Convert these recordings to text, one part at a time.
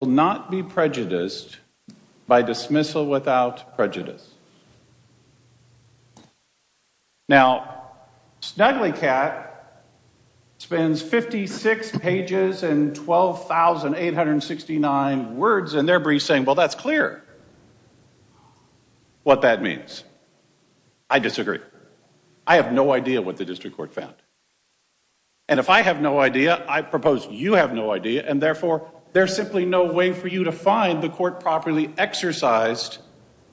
will not be prejudiced by dismissal without prejudice. Now SnugglyCat spends 56 pages and 12,869 words in their brief saying, well that's clear what that means. I disagree. I have no idea what the district court found. And if I have no idea, I propose you have no idea, and therefore there's simply no way for you to find the court properly exercised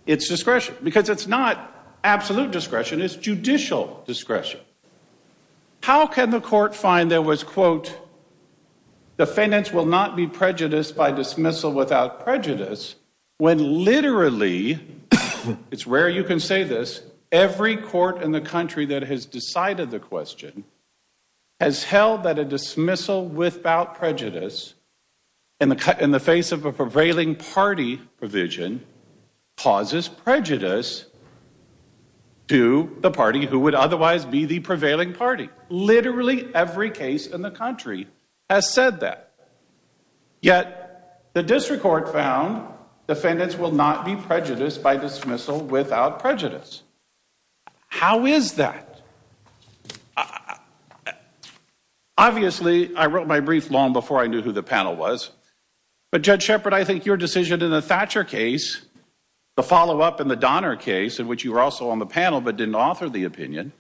its discretion. Because it's not absolute discretion, it's judicial discretion. How can the court find there was, quote, defendants will not be prejudiced by dismissal without prejudice when literally, it's rare you can say this, every court in the country that has decided the question has held that a dismissal without prejudice in the face of a prevailing party provision causes prejudice to the party who would otherwise be the prevailing party. Literally every case in the country has said that. Yet the district court found defendants will not be prejudiced by dismissal without prejudice. How is that? Obviously, I wrote my brief long before I knew who the panel was. But Judge Shepard, I think your decision in the Thatcher case, the follow-up in the Donner case, in which you were also on the panel but didn't author the opinion,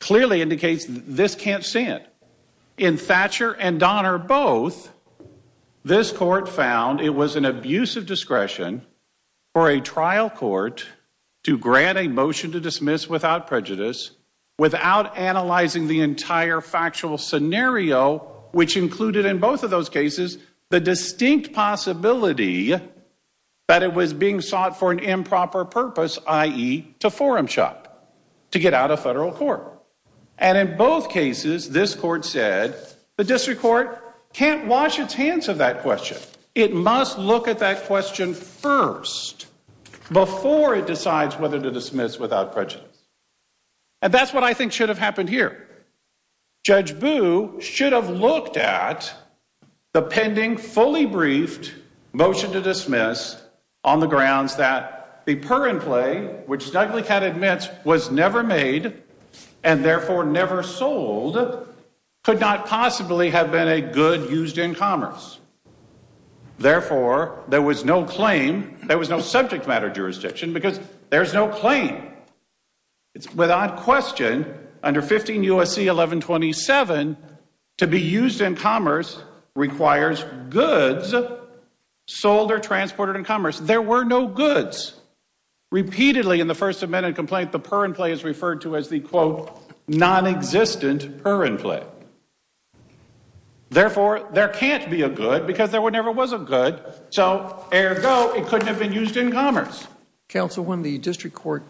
clearly indicates this can't stand. In Thatcher and Donner both, this court found it was an abuse of discretion for a trial court to grant a motion to dismiss without prejudice without analyzing the entire factual scenario, which included in both of those cases the distinct possibility that it was being sought for an improper purpose, i.e., to forum shop, to get out of federal court. And in both cases, this court said the district court can't wash its hands of that question. It must look at that question first before it decides whether to dismiss without prejudice. And that's what I think should have happened here. Judge Boo should have looked at the pending, fully briefed motion to dismiss on the grounds that the purin play, which Snugglycat admits was never made and therefore never sold, could not possibly have been a good used in commerce. Therefore, there was no claim, there was no subject matter jurisdiction, because there's no claim. Without question, under 15 U.S.C. 1127, to be used in commerce requires goods sold or transported in commerce. There were no goods. Repeatedly in the First Amendment complaint, the purin play is referred to as the, quote, nonexistent purin play. Therefore, there can't be a good because there never was a good. So, ergo, it couldn't have been used in commerce. Counsel, when the district court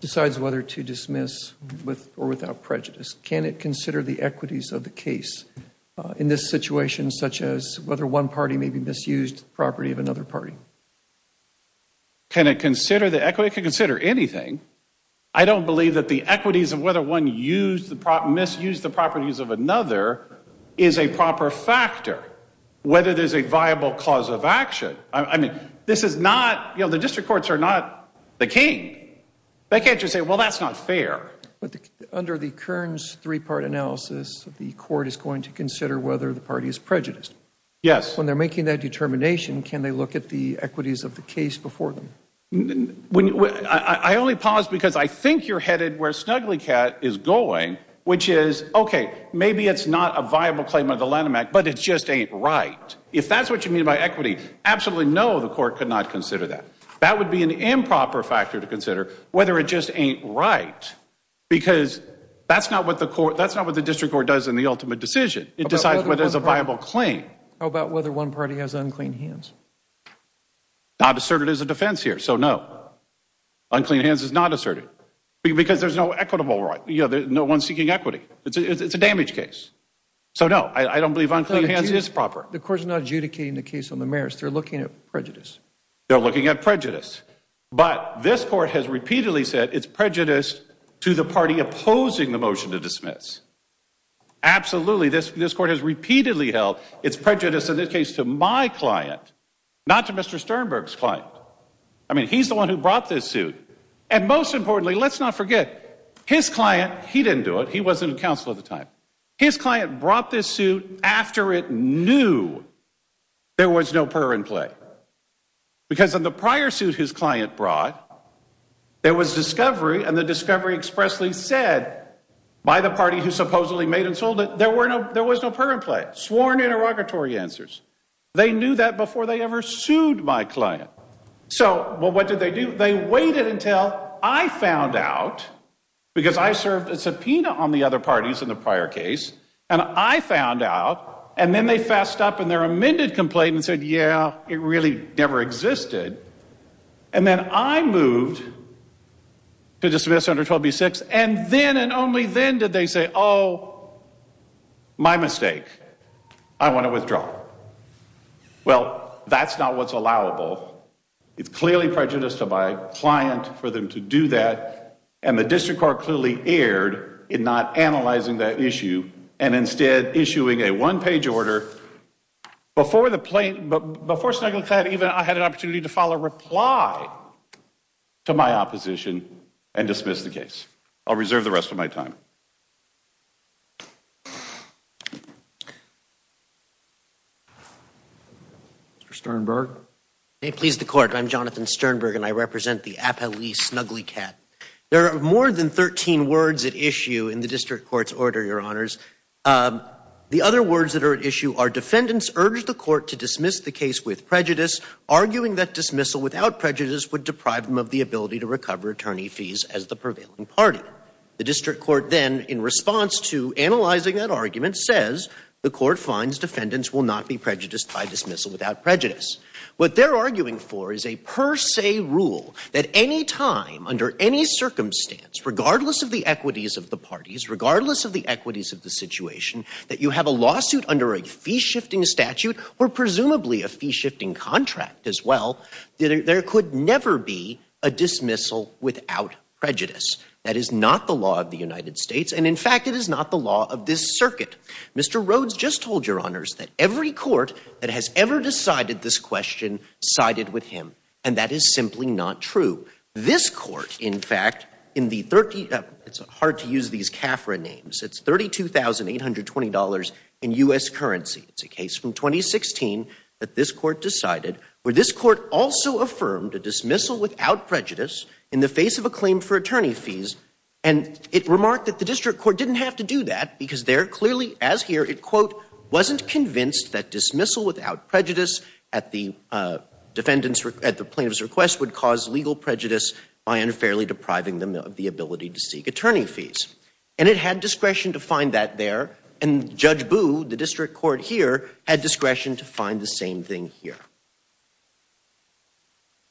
decides whether to dismiss with or without prejudice, can it consider the equities of the case in this situation, such as whether one party may be misused, property of another party? Can it consider the equity? It can consider anything. I don't believe that the equities of whether one misused the properties of another is a proper factor, whether there's a viable cause of action. I mean, this is not, you know, the district courts are not the king. They can't just say, well, that's not fair. But under the Kern's three-part analysis, the court is going to consider whether the party is prejudiced. Yes. When they're making that determination, can they look at the equities of the case before them? I only pause because I think you're headed where Snugglycat is going, which is, okay, maybe it's not a viable claim under the Lanham Act, but it just ain't right. If that's what you mean by equity, absolutely no, the court could not consider that. That would be an improper factor to consider, whether it just ain't right, because that's not what the district court does in the ultimate decision. It decides whether it's a viable claim. How about whether one party has unclean hands? Not asserted as a defense here, so no. Unclean hands is not asserted. Because there's no equitable right. No one's seeking equity. It's a damage case. So no, I don't believe unclean hands is proper. The court's not adjudicating the case on the merits. They're looking at prejudice. They're looking at prejudice. But this court has repeatedly said it's prejudiced to the party opposing the motion to dismiss. Absolutely. This court has repeatedly held it's prejudice in this case to my client, not to Mr. Sternberg's client. I mean, he's the one who brought this suit. And most importantly, let's not forget, his client, he didn't do it. He wasn't a counsel at the time. His client brought this suit after it knew there was no purr in play. Because in the prior suit his client brought, there was discovery, and the discovery expressly said by the party who supposedly made and sold it, there was no purr in play. Sworn interrogatory answers. They knew that before they ever sued my client. So, well, what did they do? They waited until I found out, because I served a subpoena on the other parties in the prior case, and I found out, and then they fessed up in their amended complaint and said, yeah, it really never existed. And then I moved to dismiss under 12B6, and then and only then did they say, oh, my mistake. I want to withdraw. Well, that's not what's allowable. It's clearly prejudice to my client for them to do that, and the district court clearly erred in not analyzing that issue, and instead issuing a one-page order. Before Snuggly Cat, I had an opportunity to file a reply to my opposition and dismiss the case. I'll reserve the rest of my time. Mr. Sternberg? May it please the Court, I'm Jonathan Sternberg, and I represent the appellee Snuggly Cat. There are more than 13 words at issue in the district court's order, Your Honors. The other words that are at issue are defendants urged the court to dismiss the case with prejudice, arguing that dismissal without prejudice would deprive them of the ability to recover attorney fees as the prevailing party. The district court then, in response to analyzing that argument, says the court finds defendants will not be prejudiced by dismissal without prejudice. What they're arguing for is a per se rule that any time, under any circumstance, regardless of the equities of the parties, regardless of the equities of the situation, that you have a lawsuit under a fee-shifting statute, or presumably a fee-shifting contract as well, there could never be a dismissal without prejudice. That is not the law of the United States, and in fact, it is not the law of this circuit. Mr. Rhodes just told Your Honors that every court that has ever decided this question sided with him, and that is simply not true. This court, in fact, in the 30—it's hard to use these CAFRA names—it's $32,820 in U.S. currency. It's a case from 2016 that this court decided, where this court also affirmed a dismissal without prejudice in the face of a claim for attorney fees, and it remarked that the district court didn't have to do that, because there, clearly, as here, it, quote, wasn't convinced that dismissal without prejudice at the plaintiff's request would cause legal prejudice. I am fairly depriving them of the ability to seek attorney fees, and it had discretion to find that there, and Judge Boo, the district court here, had discretion to find the same thing here.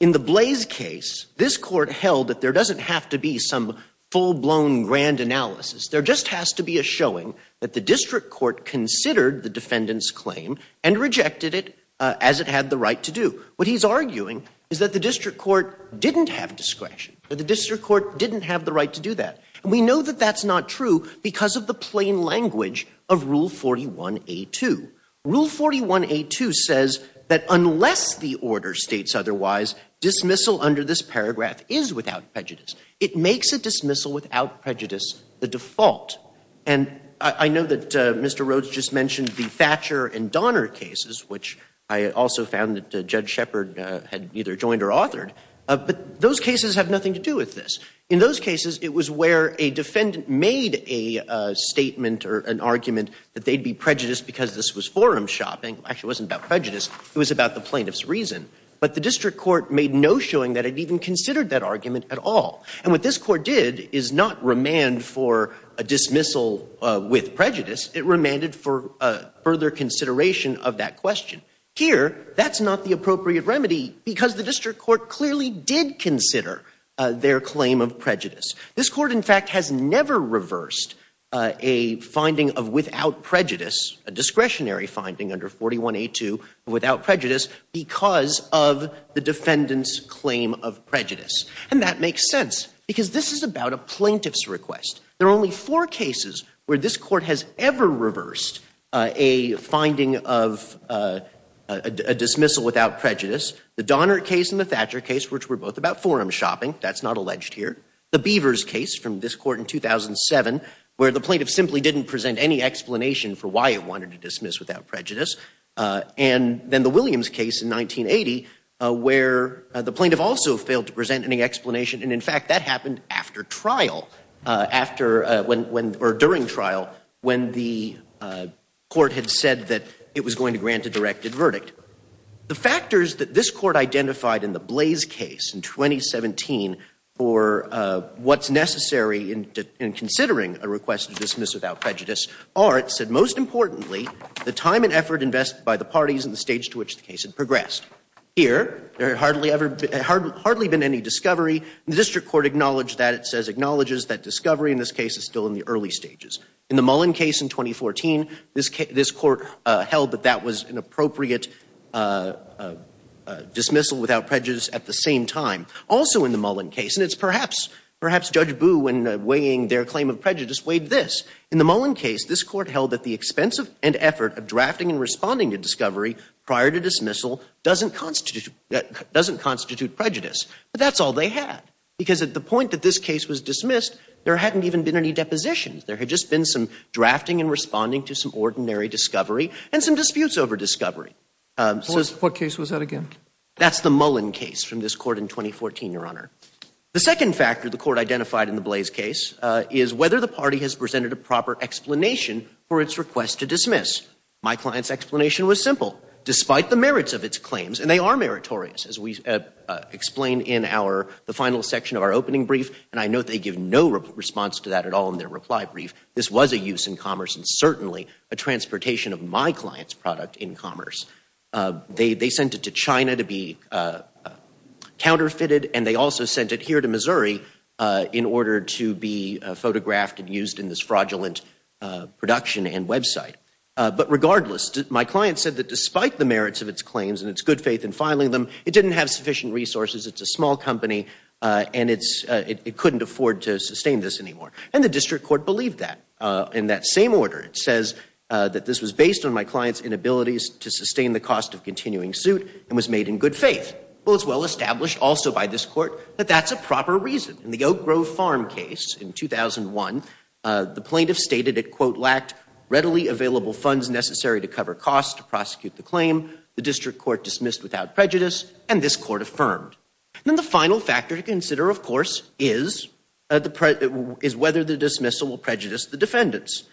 In the Blaze case, this court held that there doesn't have to be some full-blown grand analysis. There just has to be a showing that the district court considered the defendant's claim and rejected it as it had the right to do. What he's arguing is that the district court didn't have discretion, that the district court didn't have the right to do that. And we know that that's not true because of the plain language of Rule 41A2. Rule 41A2 says that unless the order states otherwise, dismissal under this paragraph is without prejudice. It makes a dismissal without prejudice the default. And I know that Mr. Rhodes just mentioned the Thatcher and Donner cases, which I also found that Judge Shepard had either joined or authored. But those cases have nothing to do with this. In those cases, it was where a defendant made a statement or an argument that they'd be prejudiced because this was forum shopping. Actually, it wasn't about prejudice. It was about the plaintiff's reason. But the district court made no showing that it even considered that argument at all. And what this court did is not remand for a dismissal with prejudice. It remanded for further consideration of that question. Here, that's not the appropriate remedy because the district court clearly did consider their claim of prejudice. This court, in fact, has never reversed a finding of without prejudice, a discretionary finding under 41A2 without prejudice because of the defendant's claim of prejudice. And that makes sense because this is about a plaintiff's request. There are only four cases where this court has ever reversed a finding of a dismissal without prejudice, the Donner case and the Thatcher case, which were both about forum shopping. That's not alleged here. The Beavers case from this court in 2007, where the plaintiff simply didn't present any explanation for why it wanted to dismiss without prejudice. And then the Williams case in 1980, where the plaintiff also failed to present any explanation. And, in fact, that happened after trial, after or during trial, when the court had said that it was going to grant a directed verdict. The factors that this court identified in the Blaze case in 2017 for what's necessary in considering a request to dismiss without prejudice are, it said, most importantly, the time and effort invested by the parties and the stage to which the case had progressed. Here, there had hardly been any discovery. The district court acknowledged that. It says acknowledges that discovery in this case is still in the early stages. In the Mullen case in 2014, this court held that that was an appropriate dismissal without prejudice at the same time. Also in the Mullen case, and it's perhaps Judge Boo when weighing their claim of prejudice weighed this. In the Mullen case, this court held that the expense and effort of drafting and responding to discovery prior to dismissal doesn't constitute prejudice. But that's all they had, because at the point that this case was dismissed, there hadn't even been any depositions. There had just been some drafting and responding to some ordinary discovery and some disputes over discovery. What case was that again? That's the Mullen case from this court in 2014, Your Honor. The second factor the court identified in the Blaze case is whether the party has presented a proper explanation for its request to dismiss. My client's explanation was simple. Despite the merits of its claims, and they are meritorious, as we explained in the final section of our opening brief, and I note they give no response to that at all in their reply brief, this was a use in commerce and certainly a transportation of my client's product in commerce. They sent it to China to be counterfeited, and they also sent it here to Missouri in production and website. But regardless, my client said that despite the merits of its claims and its good faith in filing them, it didn't have sufficient resources, it's a small company, and it couldn't afford to sustain this anymore. And the district court believed that. In that same order, it says that this was based on my client's inabilities to sustain the cost of continuing suit and was made in good faith. Well, it's well established also by this court that that's a proper reason. In the Oak Grove Farm case in 2001, the plaintiff stated it, quote, lacked readily available funds necessary to cover costs to prosecute the claim. The district court dismissed without prejudice, and this court affirmed. And then the final factor to consider, of course, is whether the dismissal will prejudice the defendants.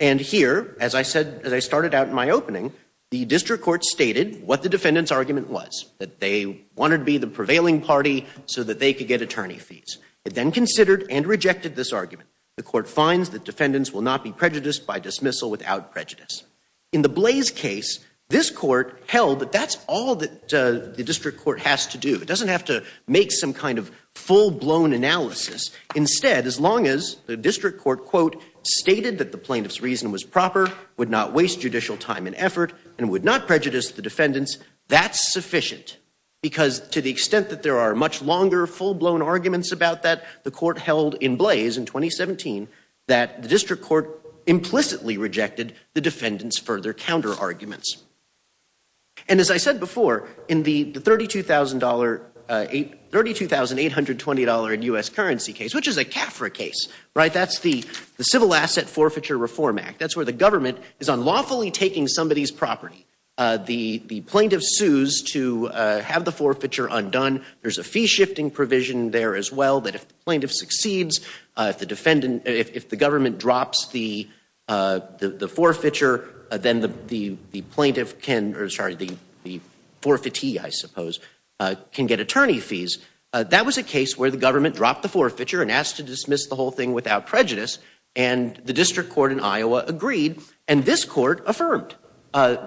And here, as I said, as I started out in my opening, the district court stated what the defendant's argument was, that they wanted to be the prevailing party so that they could get attorney fees. It then considered and rejected this argument. The court finds that defendants will not be prejudiced by dismissal without prejudice. In the Blaze case, this court held that that's all that the district court has to do. It doesn't have to make some kind of full-blown analysis. Instead, as long as the district court, quote, stated that the plaintiff's reason was proper, would not waste judicial time and effort, and would not prejudice the defendants, that's Because to the extent that there are much longer, full-blown arguments about that, the court held in Blaze in 2017 that the district court implicitly rejected the defendants' further counterarguments. And as I said before, in the $32,820 in U.S. currency case, which is a CAFRA case, right? That's the Civil Asset Forfeiture Reform Act. That's where the government is unlawfully taking somebody's property. The plaintiff sues to have the forfeiture undone. There's a fee-shifting provision there as well that if the plaintiff succeeds, if the government drops the forfeiture, then the plaintiff can, or sorry, the forfeitee, I suppose, can get attorney fees. That was a case where the government dropped the forfeiture and asked to dismiss the whole thing without prejudice. And the district court in Iowa agreed. And this court affirmed.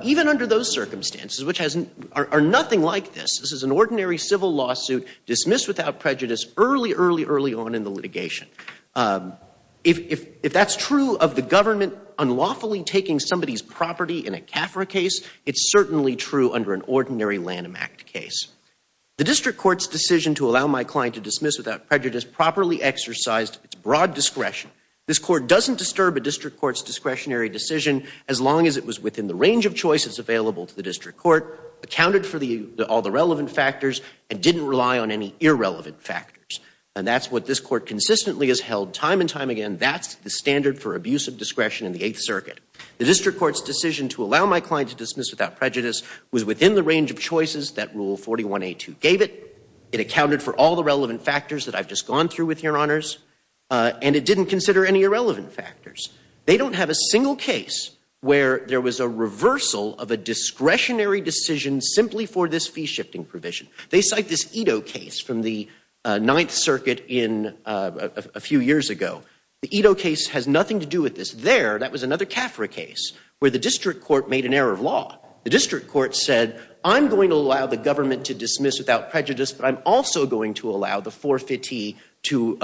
Even under those circumstances, which are nothing like this, this is an ordinary civil lawsuit dismissed without prejudice early, early, early on in the litigation. If that's true of the government unlawfully taking somebody's property in a CAFRA case, it's certainly true under an ordinary Lanham Act case. The district court's decision to allow my client to dismiss without prejudice properly exercised its broad discretion. This court doesn't disturb a district court's discretionary decision as long as it was within the range of choices available to the district court, accounted for all the relevant factors, and didn't rely on any irrelevant factors. And that's what this court consistently has held time and time again. That's the standard for abusive discretion in the Eighth Circuit. The district court's decision to allow my client to dismiss without prejudice was within the range of choices that Rule 41A2 gave it. It accounted for all the relevant factors that I've just gone through with you, Your Honors. And it didn't consider any irrelevant factors. They don't have a single case where there was a reversal of a discretionary decision simply for this fee-shifting provision. They cite this Ito case from the Ninth Circuit a few years ago. The Ito case has nothing to do with this. There, that was another CAFRA case where the district court made an error of law. The district court said, I'm going to allow the government to dismiss without prejudice, but I'm also going to allow the forfeitee to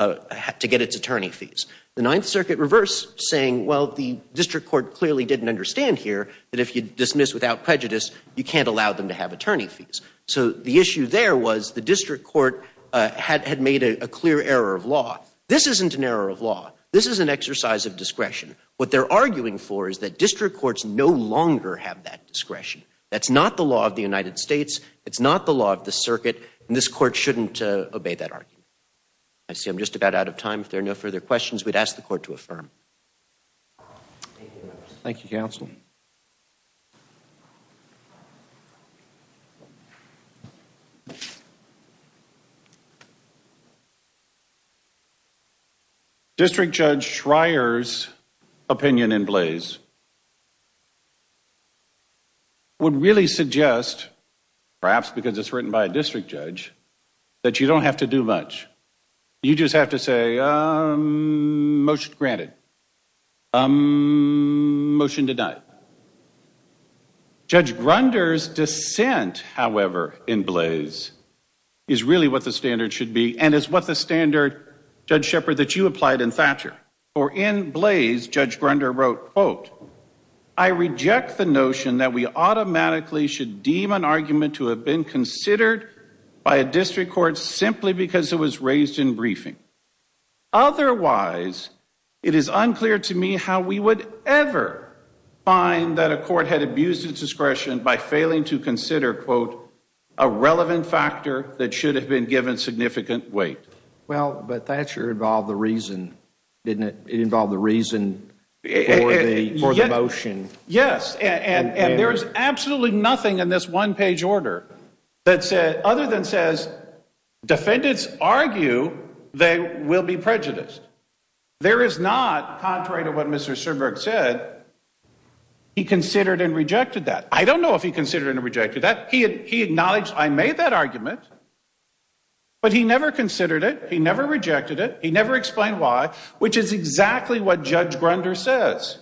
get its attorney fees. The Ninth Circuit reversed, saying, well, the district court clearly didn't understand here that if you dismiss without prejudice, you can't allow them to have attorney fees. So the issue there was the district court had made a clear error of law. This isn't an error of law. This is an exercise of discretion. What they're arguing for is that district courts no longer have that discretion. That's not the law of the United States. It's not the law of the circuit. And this court shouldn't obey that argument. I see I'm just about out of time. If there are no further questions, we'd ask the court to affirm. Thank you, counsel. District Judge Schreier's opinion in Blaze would really suggest, perhaps because it's written by a district judge, that you don't have to do much. You just have to say, um, motion granted. Um, motion denied. Judge Grunder's dissent, however, in Blaze is really what the standard should be and is what the standard, Judge Shepard, that you applied in Thatcher. For in Blaze, Judge Grunder wrote, quote, I reject the notion that we automatically should deem an argument to have been considered by a district court simply because it was raised in briefing. Otherwise, it is unclear to me how we would ever find that a court had abused its discretion by failing to consider, quote, a relevant factor that should have been given significant weight. Well, but Thatcher involved the reason, didn't it? It involved the reason for the motion. Yes, and there is absolutely nothing in this one-page order that said, other than says defendants argue they will be prejudiced. There is not, contrary to what Mr. Sternberg said, he considered and rejected that. I don't know if he considered and rejected that. He acknowledged I made that argument, but he never considered it. He never rejected it. He never explained why, which is exactly what Judge Grunder says.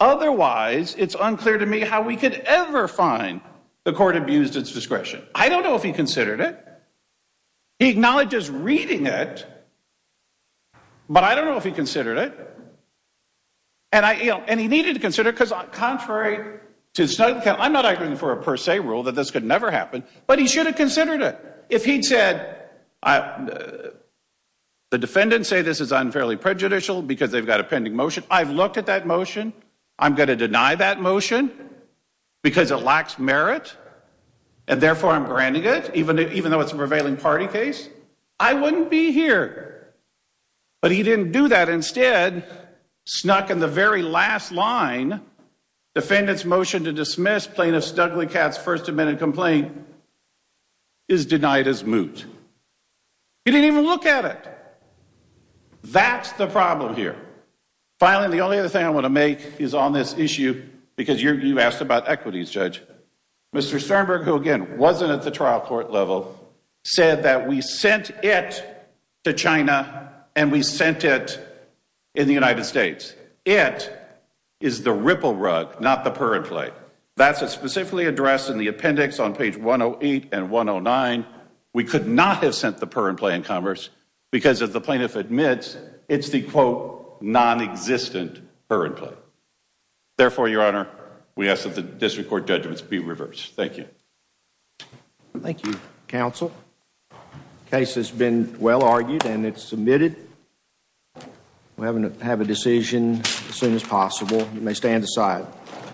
Otherwise, it's unclear to me how we could ever find the court abused its discretion. I don't know if he considered it. He acknowledges reading it, but I don't know if he considered it. And I, you know, and he needed to consider it because contrary to, I'm not arguing for a per se rule that this could never happen, but he should have considered it if he'd said the defendants say this is unfairly prejudicial because they've got a pending motion. I've looked at that motion. I'm going to deny that motion because it lacks merit, and therefore I'm granting it, even though it's a prevailing party case. I wouldn't be here. But he didn't do that. Instead, snuck in the very last line, defendant's motion to dismiss plaintiff Stugley Catt's First Amendment complaint is denied as moot. He didn't even look at it. That's the problem here. Finally, the only other thing I want to make is on this issue, because you asked about equities, Judge. Mr. Sternberg, who again wasn't at the trial court level, said that we sent it to China and we sent it in the United States. It is the ripple rug, not the purr and play. That's specifically addressed in the appendix on page 108 and 109. We could not have sent the purr and play in commerce because, as the plaintiff admits, it's the quote non-existent purr and play. Therefore, Your Honor, we ask that the district court judgments be reversed. Thank you. Thank you, counsel. The case has been well argued and it's submitted. We're going to have a decision as soon as possible. You may stand aside.